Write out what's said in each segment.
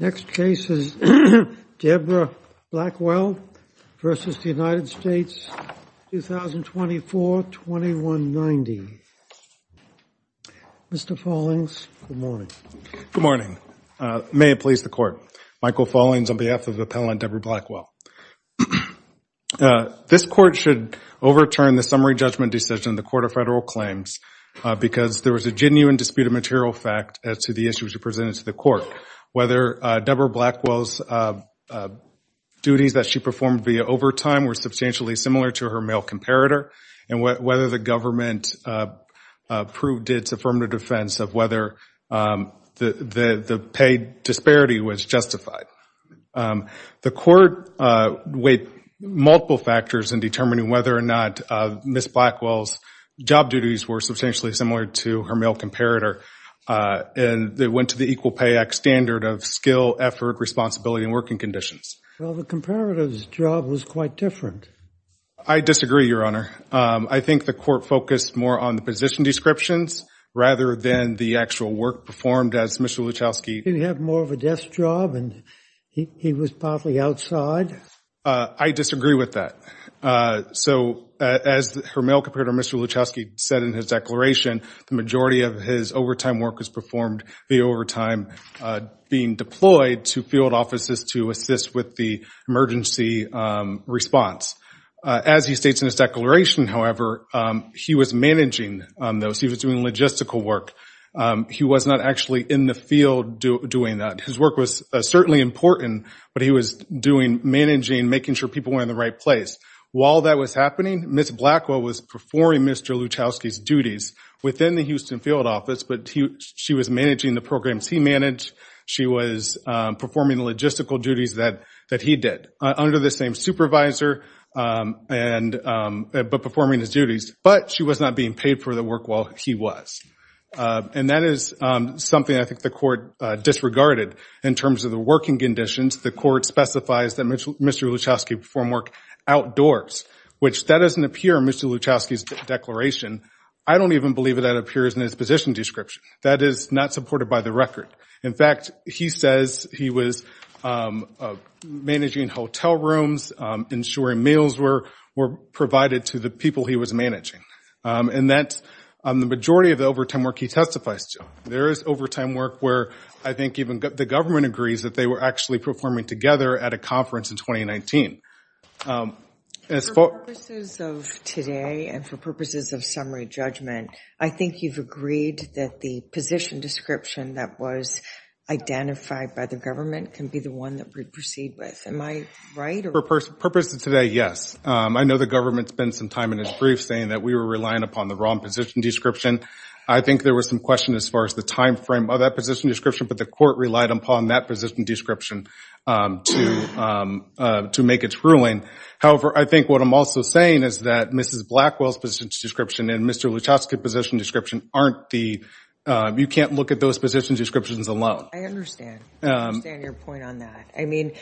Next case is Deborah Blackwell v. United States, 2024-2190. Mr. Follings, good morning. Good morning. May it please the Court, Michael Follings on behalf of the appellant Deborah Blackwell. This Court should overturn the summary judgment decision in the Court of Federal Claims because there was a genuine dispute of material fact as to the issues presented to the Court, whether Deborah Blackwell's duties that she performed via overtime were substantially similar to her male comparator, and whether the government proved its affirmative defense of whether the pay disparity was justified. The Court weighed multiple factors in determining whether or not Ms. Blackwell's job duties were substantially similar to her male comparator, and they went to the Equal Pay Act standard of skill, effort, responsibility, and working conditions. Well, the comparator's job was quite different. I disagree, Your Honor. I think the Court focused more on the position descriptions rather than the actual work performed as Mr. Luchowski— He had more of a desk job, and he was partly outside. I disagree with that. So as her male comparator, Mr. Luchowski, said in his declaration, the majority of his overtime work was performed via overtime being deployed to field offices to assist with the emergency response. As he states in his declaration, however, he was managing those. He was doing logistical work. He was not actually in the field doing that. His work was certainly important, but he was managing, making sure people were in the right place. While that was happening, Ms. Blackwell was performing Mr. Luchowski's duties within the Houston field office, but she was managing the programs he managed. She was performing the logistical duties that he did under the same supervisor, but performing his duties. But she was not being paid for the work while he was. And that is something I think the Court disregarded. In terms of the working conditions, the Court specifies that Mr. Luchowski performed work outdoors, which that doesn't appear in Mr. Luchowski's declaration. I don't even believe that that appears in his position description. That is not supported by the record. In fact, he says he was managing hotel rooms, ensuring meals were provided to the people he was managing. And that's the majority of the overtime work he testifies to. There is overtime work where I think even the government agrees that they were actually performing together at a conference in 2019. For purposes of today and for purposes of summary judgment, I think you've agreed that the position description that was identified by the government can be the one that we proceed with. Am I right? For purposes of today, yes. I know the government spent some time in its brief saying that we were relying upon the wrong position description. I think there was some question as far as the time frame of that position description, but the court relied upon that position description to make its ruling. However, I think what I'm also saying is that Mrs. Blackwell's position description and Mr. Luchowski's position description aren't the, you can't look at those position descriptions alone. I understand. I understand your point on that. I mean,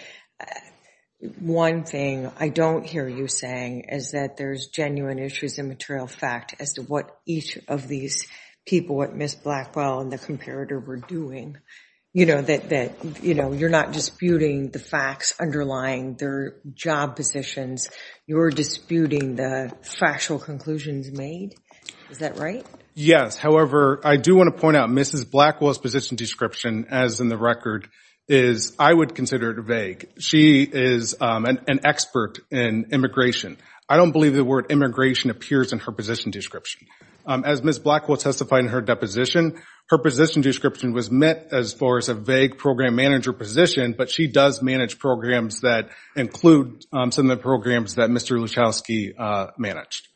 one thing I don't hear you saying is that there's genuine issues in material fact as to what each of these people, what Ms. Blackwell and the comparator were doing. You know, that, you know, you're not disputing the facts underlying their job positions. You're disputing the factual conclusions made. Is that right? Yes. However, I do want to point out Mrs. Blackwell's position description as in the record is, I would consider it vague. She is an expert in immigration. I don't believe the word immigration appears in her position description. As Ms. Blackwell testified in her deposition, her position description was met as far as a vague program manager position, but she does manage programs that include some of the programs that Mr. Luchowski managed.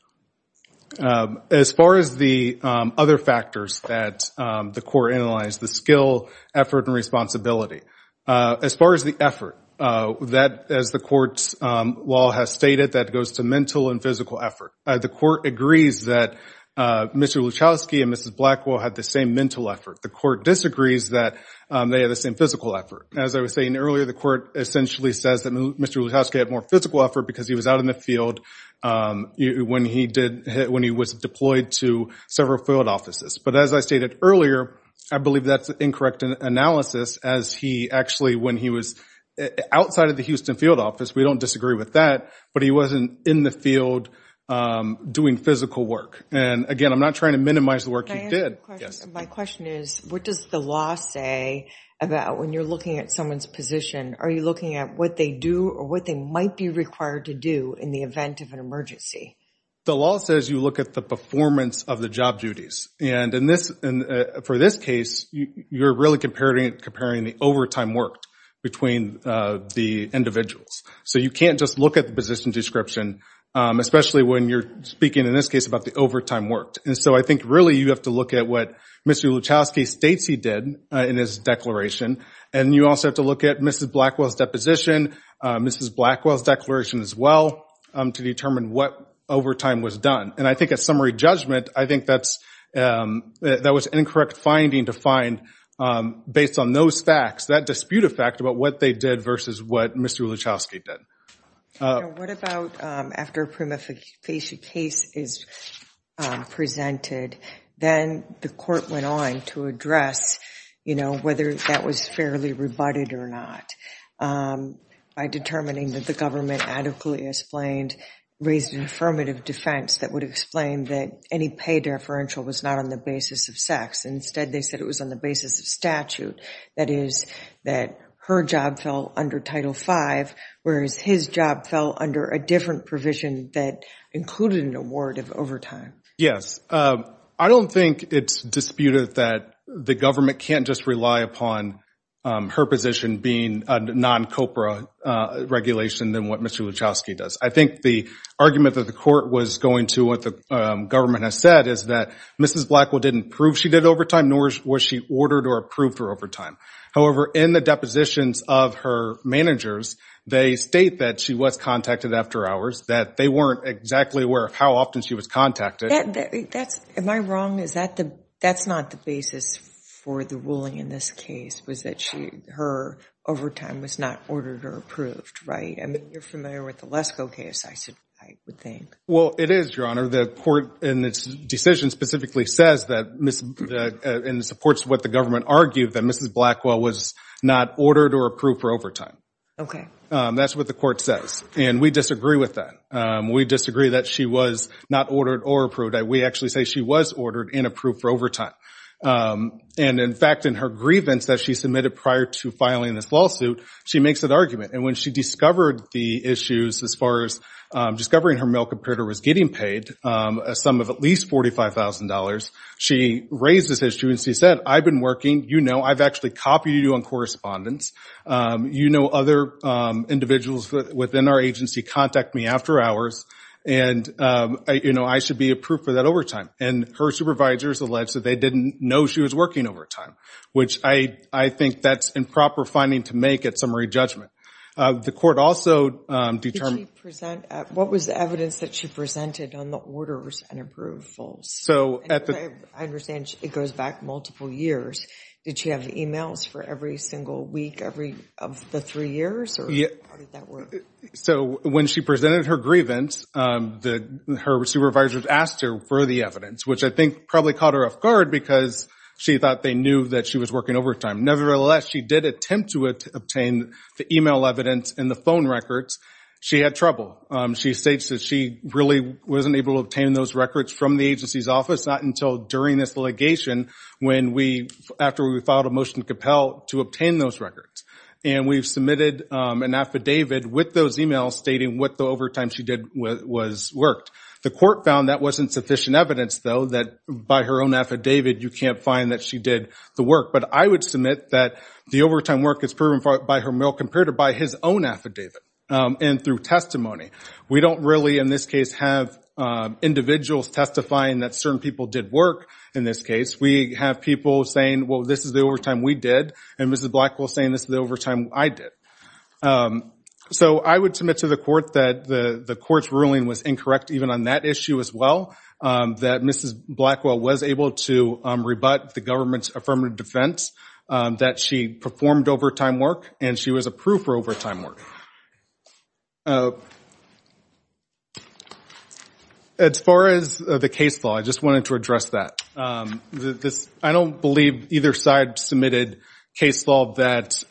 As far as the other factors that the court analyzed, the skill, effort, and responsibility, as far as the effort, as the court's law has stated, that goes to mental and physical effort. The court agrees that Mr. Luchowski and Mrs. Blackwell had the same mental effort. The court disagrees that they had the same physical effort. As I was saying earlier, the court essentially says that Mr. Luchowski had more physical effort because he was out in the field when he was deployed to several field offices. As I stated earlier, I believe that's an incorrect analysis as he actually, when he was outside of the Houston field office, we don't disagree with that, but he wasn't in the field doing physical work. Again, I'm not trying to minimize the work he did. My question is, what does the law say about when you're looking at someone's position, are you looking at what they do or what they might be required to do in the event of an The law says you look at the performance of the job duties. For this case, you're really comparing the overtime work between the individuals. You can't just look at the position description, especially when you're speaking, in this case, about the overtime work. I think really you have to look at what Mr. Luchowski states he did in his declaration. You also have to look at Mrs. Blackwell's deposition, Mrs. Blackwell's declaration as well, to determine what overtime was done. And I think at summary judgment, I think that was an incorrect finding to find, based on those facts, that dispute of fact about what they did versus what Mr. Luchowski did. What about after a prima facie case is presented, then the court went on to address whether that was fairly rebutted or not, by determining that the government adequately explained, raised an affirmative defense that would explain that any pay deferential was not on the basis of sex. Instead, they said it was on the basis of statute. That is, that her job fell under Title V, whereas his job fell under a different provision that included an award of overtime. Yes, I don't think it's disputed that the government can't just rely upon her position being a non-COPRA regulation than what Mr. Luchowski does. I think the argument that the court was going to what the government has said is that Mrs. Blackwell didn't prove she did overtime, nor was she ordered or approved for overtime. However, in the depositions of her managers, they state that she was contacted after hours, that they weren't exactly aware of how often she was contacted. Am I wrong? That's not the basis for the ruling in this case, was that her overtime was not ordered or approved, right? I mean, you're familiar with the Lesko case, I would think. Well, it is, Your Honor. The court in its decision specifically says that, and supports what the government argued, that Mrs. Blackwell was not ordered or approved for overtime. That's what the court says. And we disagree with that. We disagree that she was not ordered or approved. We actually say she was ordered and approved for overtime. And in fact, in her grievance that she submitted prior to filing this lawsuit, she makes that argument. And when she discovered the issues as far as discovering her mail computer was getting paid a sum of at least $45,000, she raised this issue and she said, I've been working, you know, I've actually copied you on correspondence. You know other individuals within our agency contact me after hours, and, you know, I should be approved for that overtime. And her supervisors alleged that they didn't know she was working overtime, which I think that's improper finding to make at summary judgment. The court also determined- What was the evidence that she presented on the orders and approvals? So at the- I understand it goes back multiple years. Did she have emails for every single week of the three years? Or how did that work? So when she presented her grievance, her supervisors asked her for the evidence, which I think probably caught her off guard because she thought they knew that she was working overtime. Nevertheless, she did attempt to obtain the email evidence and the phone records. She had trouble. She states that she really wasn't able to obtain those records from the agency's office, not until during this litigation when we- after we filed a motion to compel to obtain those records. And we've submitted an affidavit with those emails stating what the overtime she did was worked. The court found that wasn't sufficient evidence, though, that by her own affidavit you can't find that she did the work. But I would submit that the overtime work is proven by her mail compared to by his own affidavit and through testimony. We don't really, in this case, have individuals testifying that certain people did work in this case. We have people saying, well, this is the overtime we did, and Mrs. Blackwell is saying this is the overtime I did. So I would submit to the court that the court's ruling was incorrect even on that issue as well, that Mrs. Blackwell was able to rebut the government's affirmative defense that she performed overtime work and she was approved for overtime work. As far as the case law, I just wanted to address that. I don't believe either side submitted a case law that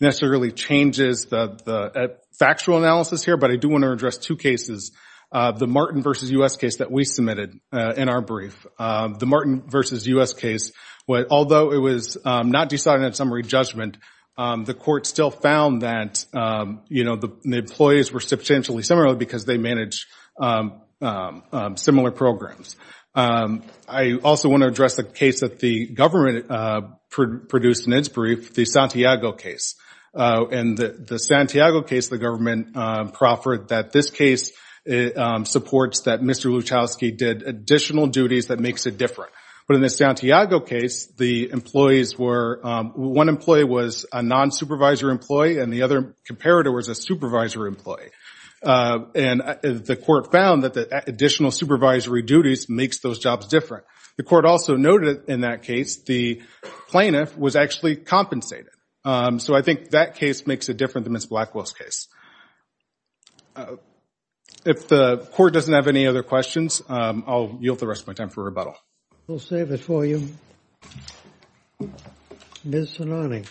necessarily changes the factual analysis here, but I do want to address two cases. The Martin v. U.S. case that we submitted in our brief, the Martin v. U.S. case. Although it was not decided in summary judgment, the court still found that the employees were substantially similar because they manage similar programs. I also want to address the case that the government produced in its brief, the Santiago case. In the Santiago case, the government proffered that this case supports that Mr. Luchowski did additional duties that makes it different. But in the Santiago case, one employee was a non-supervisor employee and the other comparator was a supervisor employee. The court found that the additional supervisory duties makes those jobs different. The court also noted in that case the plaintiff was actually compensated. So I think that case makes it different than Mrs. Blackwell's case. If the court doesn't have any other questions, I'll yield the rest of my time for rebuttal. We'll save it for you. Ms. Salani.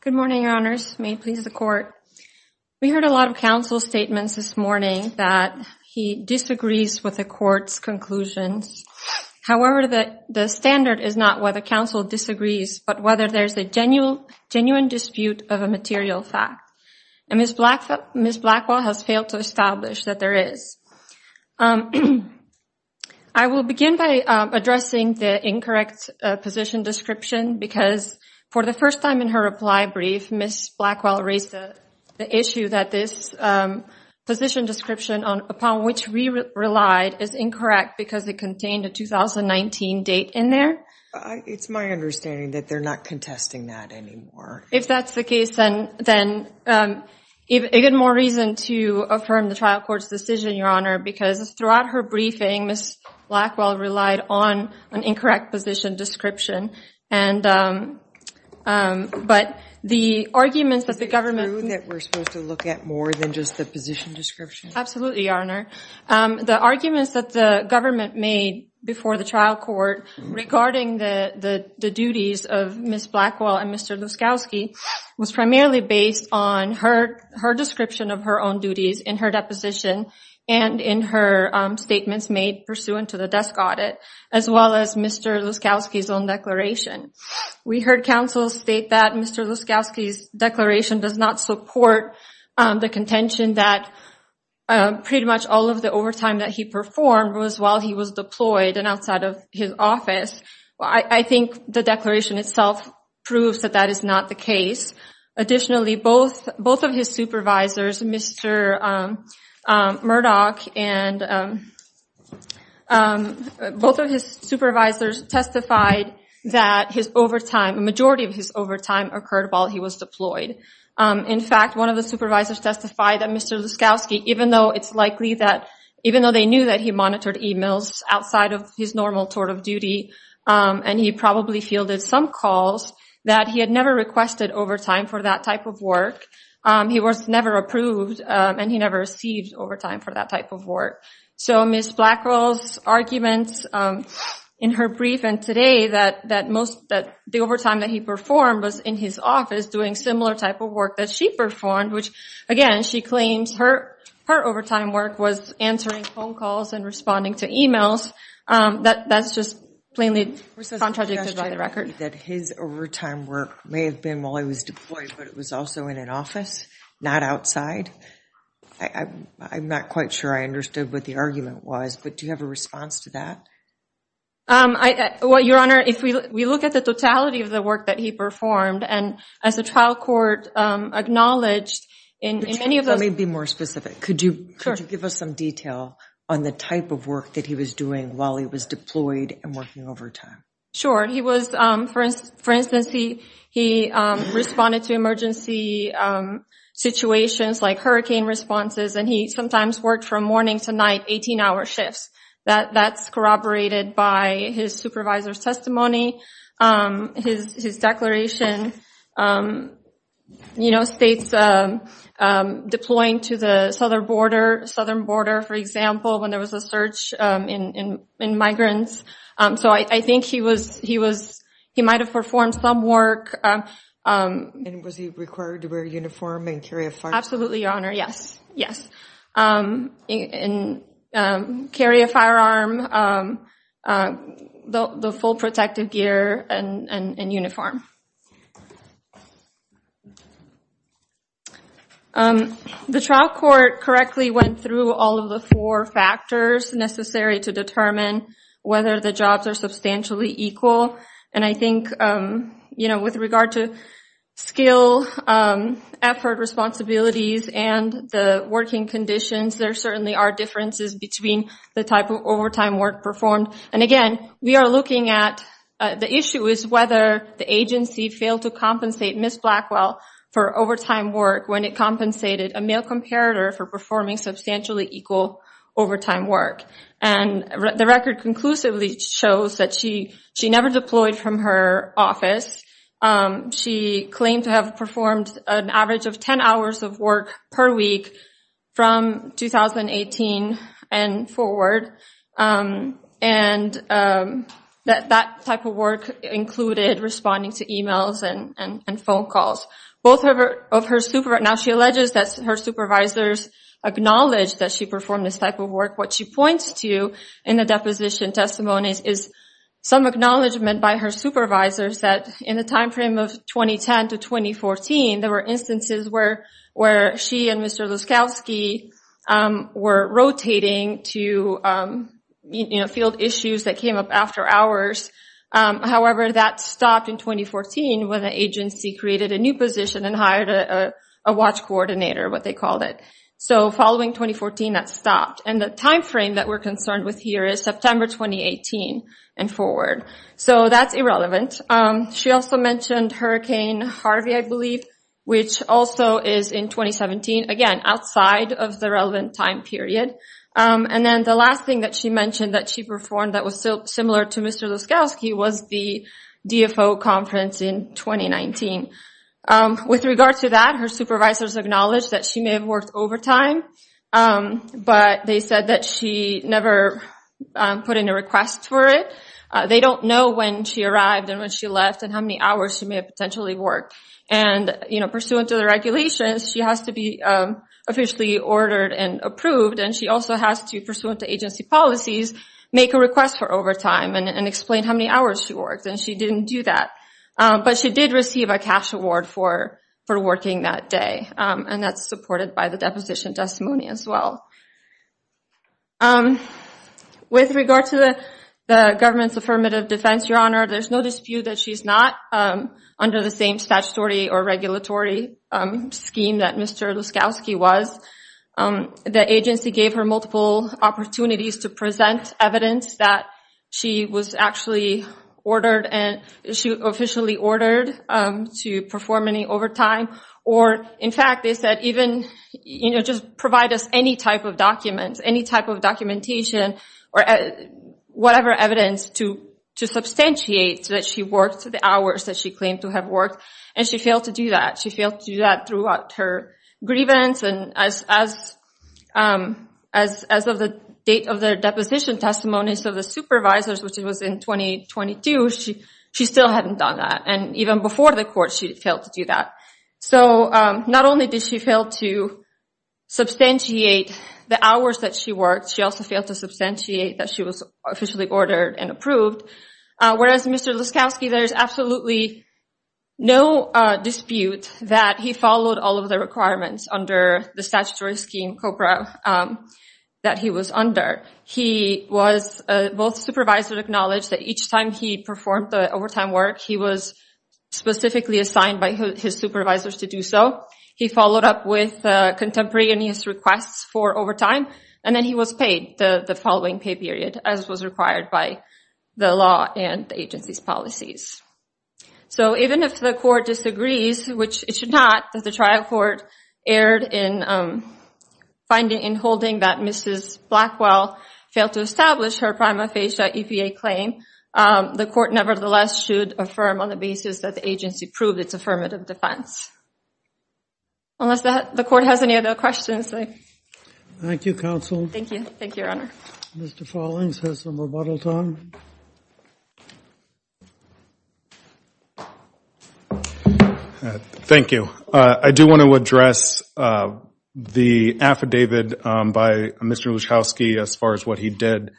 Good morning, your honors. May it please the court. We heard a lot of counsel statements this morning that he disagrees with the court's conclusions. However, the standard is not whether counsel disagrees, but whether there is a genuine dispute of a material fact. And Ms. Blackwell has failed to establish that there is. I will begin by addressing the incorrect position description because for the first time in her reply brief, Ms. Blackwell raised the issue that this position description upon which we relied is incorrect because it contained a 2019 date in there. It's my understanding that they're not contesting that anymore. If that's the case, then a good more reason to affirm the trial court's decision, your honor, because throughout her briefing, Ms. Blackwell relied on an incorrect position description. But the arguments that the government... Is it true that we're supposed to look at more than just the position description? Absolutely, your honor. The arguments that the government made before the trial court regarding the duties of Ms. Blackwell and Mr. Luskowski was primarily based on her description of her own duties in her deposition and in her statements made pursuant to the desk audit, as well as Mr. Luskowski's own declaration. We heard counsel state that Mr. Luskowski's declaration does not support the contention that pretty much all of the overtime that he performed was while he was deployed and outside of his office. I think the declaration itself proves that that is not the case. Additionally, both of his supervisors, Mr. Murdoch and both of his supervisors testified that a majority of his overtime occurred while he was deployed. In fact, one of the supervisors testified that Mr. Luskowski, even though it's likely that... Even though they knew that he monitored emails outside of his normal tour of duty, and he probably fielded some calls, that he had never requested overtime for that type of work. He was never approved, and he never received overtime for that type of work. So Ms. Blackwell's arguments in her briefing today that the overtime that he performed was in his office doing similar type of work that she performed, which again, she claims her overtime work was answering phone calls and responding to emails. That's just plainly contradicted by the record. That his overtime work may have been while he was deployed, but it was also in an office, not outside? I'm not quite sure I understood what the argument was, but do you have a response to that? Well, Your Honor, if we look at the totality of the work that he performed, and as the trial court acknowledged in many of those... Let me be more specific. Could you give us some detail on the type of work that he was doing while he was deployed and working overtime? Sure. He was, for instance, he responded to emergency situations like hurricane responses, and he sometimes worked from morning to night, 18-hour shifts. That's corroborated by his supervisor's testimony, his declaration, states deploying to the southern border, for example, when there was a surge in migrants. So I think he might have performed some work. And was he required to wear a uniform and carry a firearm? Absolutely, Your Honor, yes. And carry a firearm, the full protective gear, and uniform. The trial court correctly went through all of the four factors necessary to determine whether the jobs are substantially equal. And I think, you know, with regard to skill, effort, responsibilities, and the working conditions, there certainly are differences between the type of overtime work performed. And again, we are looking at... The issue is whether the agency failed to compensate Ms. Blackwell for overtime work when it compensated a male comparator for performing substantially equal overtime work. And the record conclusively shows that she never deployed from her office. She claimed to have performed an average of 10 hours of work per week from 2018 and forward. And that type of work included responding to emails and phone calls. Now she alleges that her supervisors acknowledged that she performed this type of work. What she points to in the deposition testimony is some acknowledgment by her supervisors that in the time frame of 2010 to 2014, there were instances where she and Mr. Laskowski were rotating to, you know, field issues that came up after hours. However, that stopped in 2014 when the agency created a new position and hired a watch coordinator, what they called it. So following 2014, that stopped. And the time frame that we're concerned with here is September 2018 and forward. So that's irrelevant. She also mentioned Hurricane Harvey, I believe, which also is in 2017, again, outside of the relevant time period. And then the last thing that she mentioned that she performed that was similar to Mr. Laskowski was the DFO conference in 2019. With regard to that, her supervisors acknowledged that she may have worked overtime, but they said that she never put in a request for it. They don't know when she arrived and when she left and how many hours she may have potentially worked. And, you know, pursuant to the regulations, she has to be officially ordered and approved, and she also has to, pursuant to agency policies, make a request for overtime and explain how many hours she worked. And she didn't do that. But she did receive a cash award for working that day, and that's supported by the deposition testimony as well. With regard to the government's affirmative defense, Your Honor, there's no dispute that she's not under the same statutory or regulatory scheme that Mr. Laskowski was. The agency gave her multiple opportunities to present evidence that she was actually ordered and she officially ordered to perform any overtime. Or, in fact, they said even, you know, just provide us any type of documents, any type of documentation or whatever evidence to substantiate that she worked the hours that she claimed to have worked, and she failed to do that. She failed to do that throughout her grievance, and as of the date of the deposition testimony, so the supervisor's, which was in 2022, she still hadn't done that. And even before the court, she failed to do that. So not only did she fail to substantiate the hours that she worked, she also failed to substantiate that she was officially ordered and approved. Whereas Mr. Laskowski, there's absolutely no dispute that he followed all of the requirements under the statutory scheme COBRA that he was under. He was, both supervisors acknowledged that each time he performed the overtime work, he was specifically assigned by his supervisors to do so. He followed up with contemporary and his requests for overtime, and then he was paid the following pay period as was required by the law and the agency's policies. So even if the court disagrees, which it should not, that the trial court erred in holding that Mrs. Blackwell failed to establish her prima facie EPA claim, the court nevertheless should affirm on the basis that the agency proved its affirmative defense. Unless the court has any other questions. Thank you, Counsel. Thank you, Your Honor. Mr. Follings has some rebuttals on. Thank you. I do want to address the affidavit by Mr. Laskowski as far as what he did,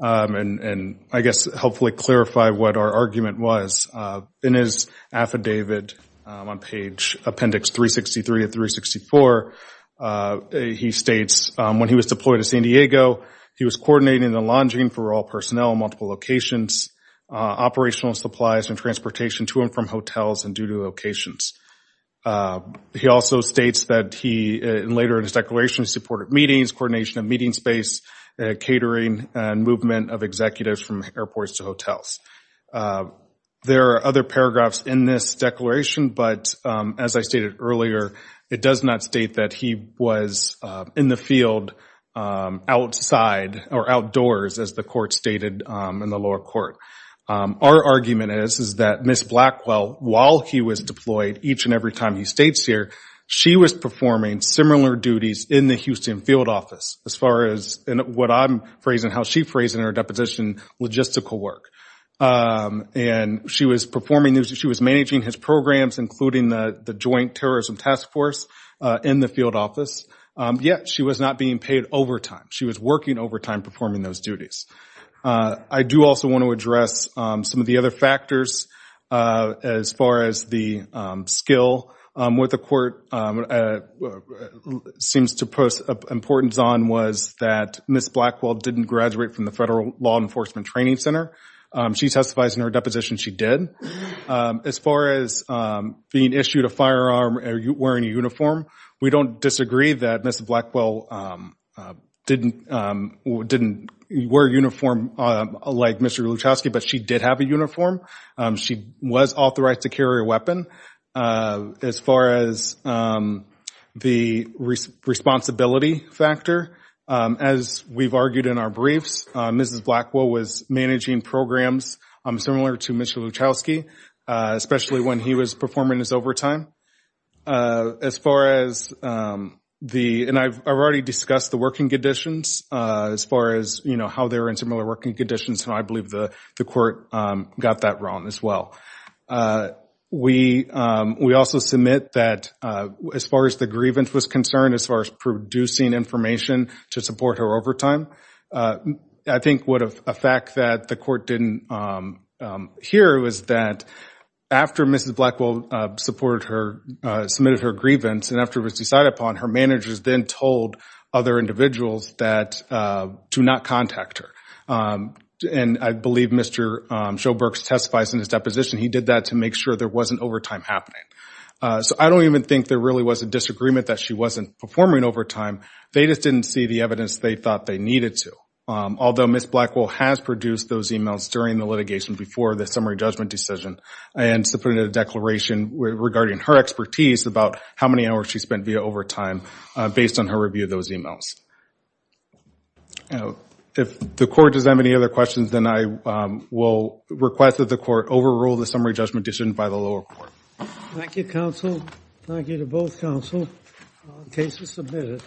and I guess hopefully clarify what our argument was. In his affidavit on page appendix 363 of 364, he states when he was deployed to San Diego, he was coordinating the launching for all personnel in multiple locations, operational supplies and transportation to and from hotels and duty locations. He also states that he later in his declaration supported meetings, coordination of meeting space, catering, and movement of executives from airports to hotels. There are other paragraphs in this declaration, but as I stated earlier, it does not state that he was in the field outside or outdoors, as the court stated in the lower court. Our argument is that Ms. Blackwell, while he was deployed each and every time he stays here, she was performing similar duties in the Houston field office as far as what I'm phrasing, how she phrasing her deposition logistical work. She was managing his programs, including the Joint Terrorism Task Force in the field office, yet she was not being paid overtime. She was working overtime performing those duties. I do also want to address some of the other factors as far as the skill. What the court seems to put importance on was that Ms. Blackwell didn't graduate from the Federal Law Enforcement Training Center. She testifies in her deposition she did. As far as being issued a firearm or wearing a uniform, we don't disagree that Ms. Blackwell didn't wear a uniform like Mr. Luchowski, but she did have a uniform. She was authorized to carry a weapon. As far as the responsibility factor, as we've argued in our briefs, we believe that Ms. Blackwell was managing programs similar to Mr. Luchowski, especially when he was performing his overtime. I've already discussed the working conditions as far as how they were in similar working conditions, and I believe the court got that wrong as well. We also submit that as far as the grievance was concerned, as far as producing information to support her overtime, I think a fact that the court didn't hear was that after Ms. Blackwell submitted her grievance and after it was decided upon, her managers then told other individuals to not contact her. I believe Mr. Showbrooks testifies in his deposition he did that to make sure there wasn't overtime happening. I don't even think there really was a disagreement that she wasn't performing overtime. They just didn't see the evidence they thought they needed to, although Ms. Blackwell has produced those emails during the litigation before the summary judgment decision and submitted a declaration regarding her expertise about how many hours she spent via overtime based on her review of those emails. If the court does have any other questions, then I will request that the court overrule the summary judgment decision by the lower court. Thank you, counsel. Thank you to both counsel. The case is submitted.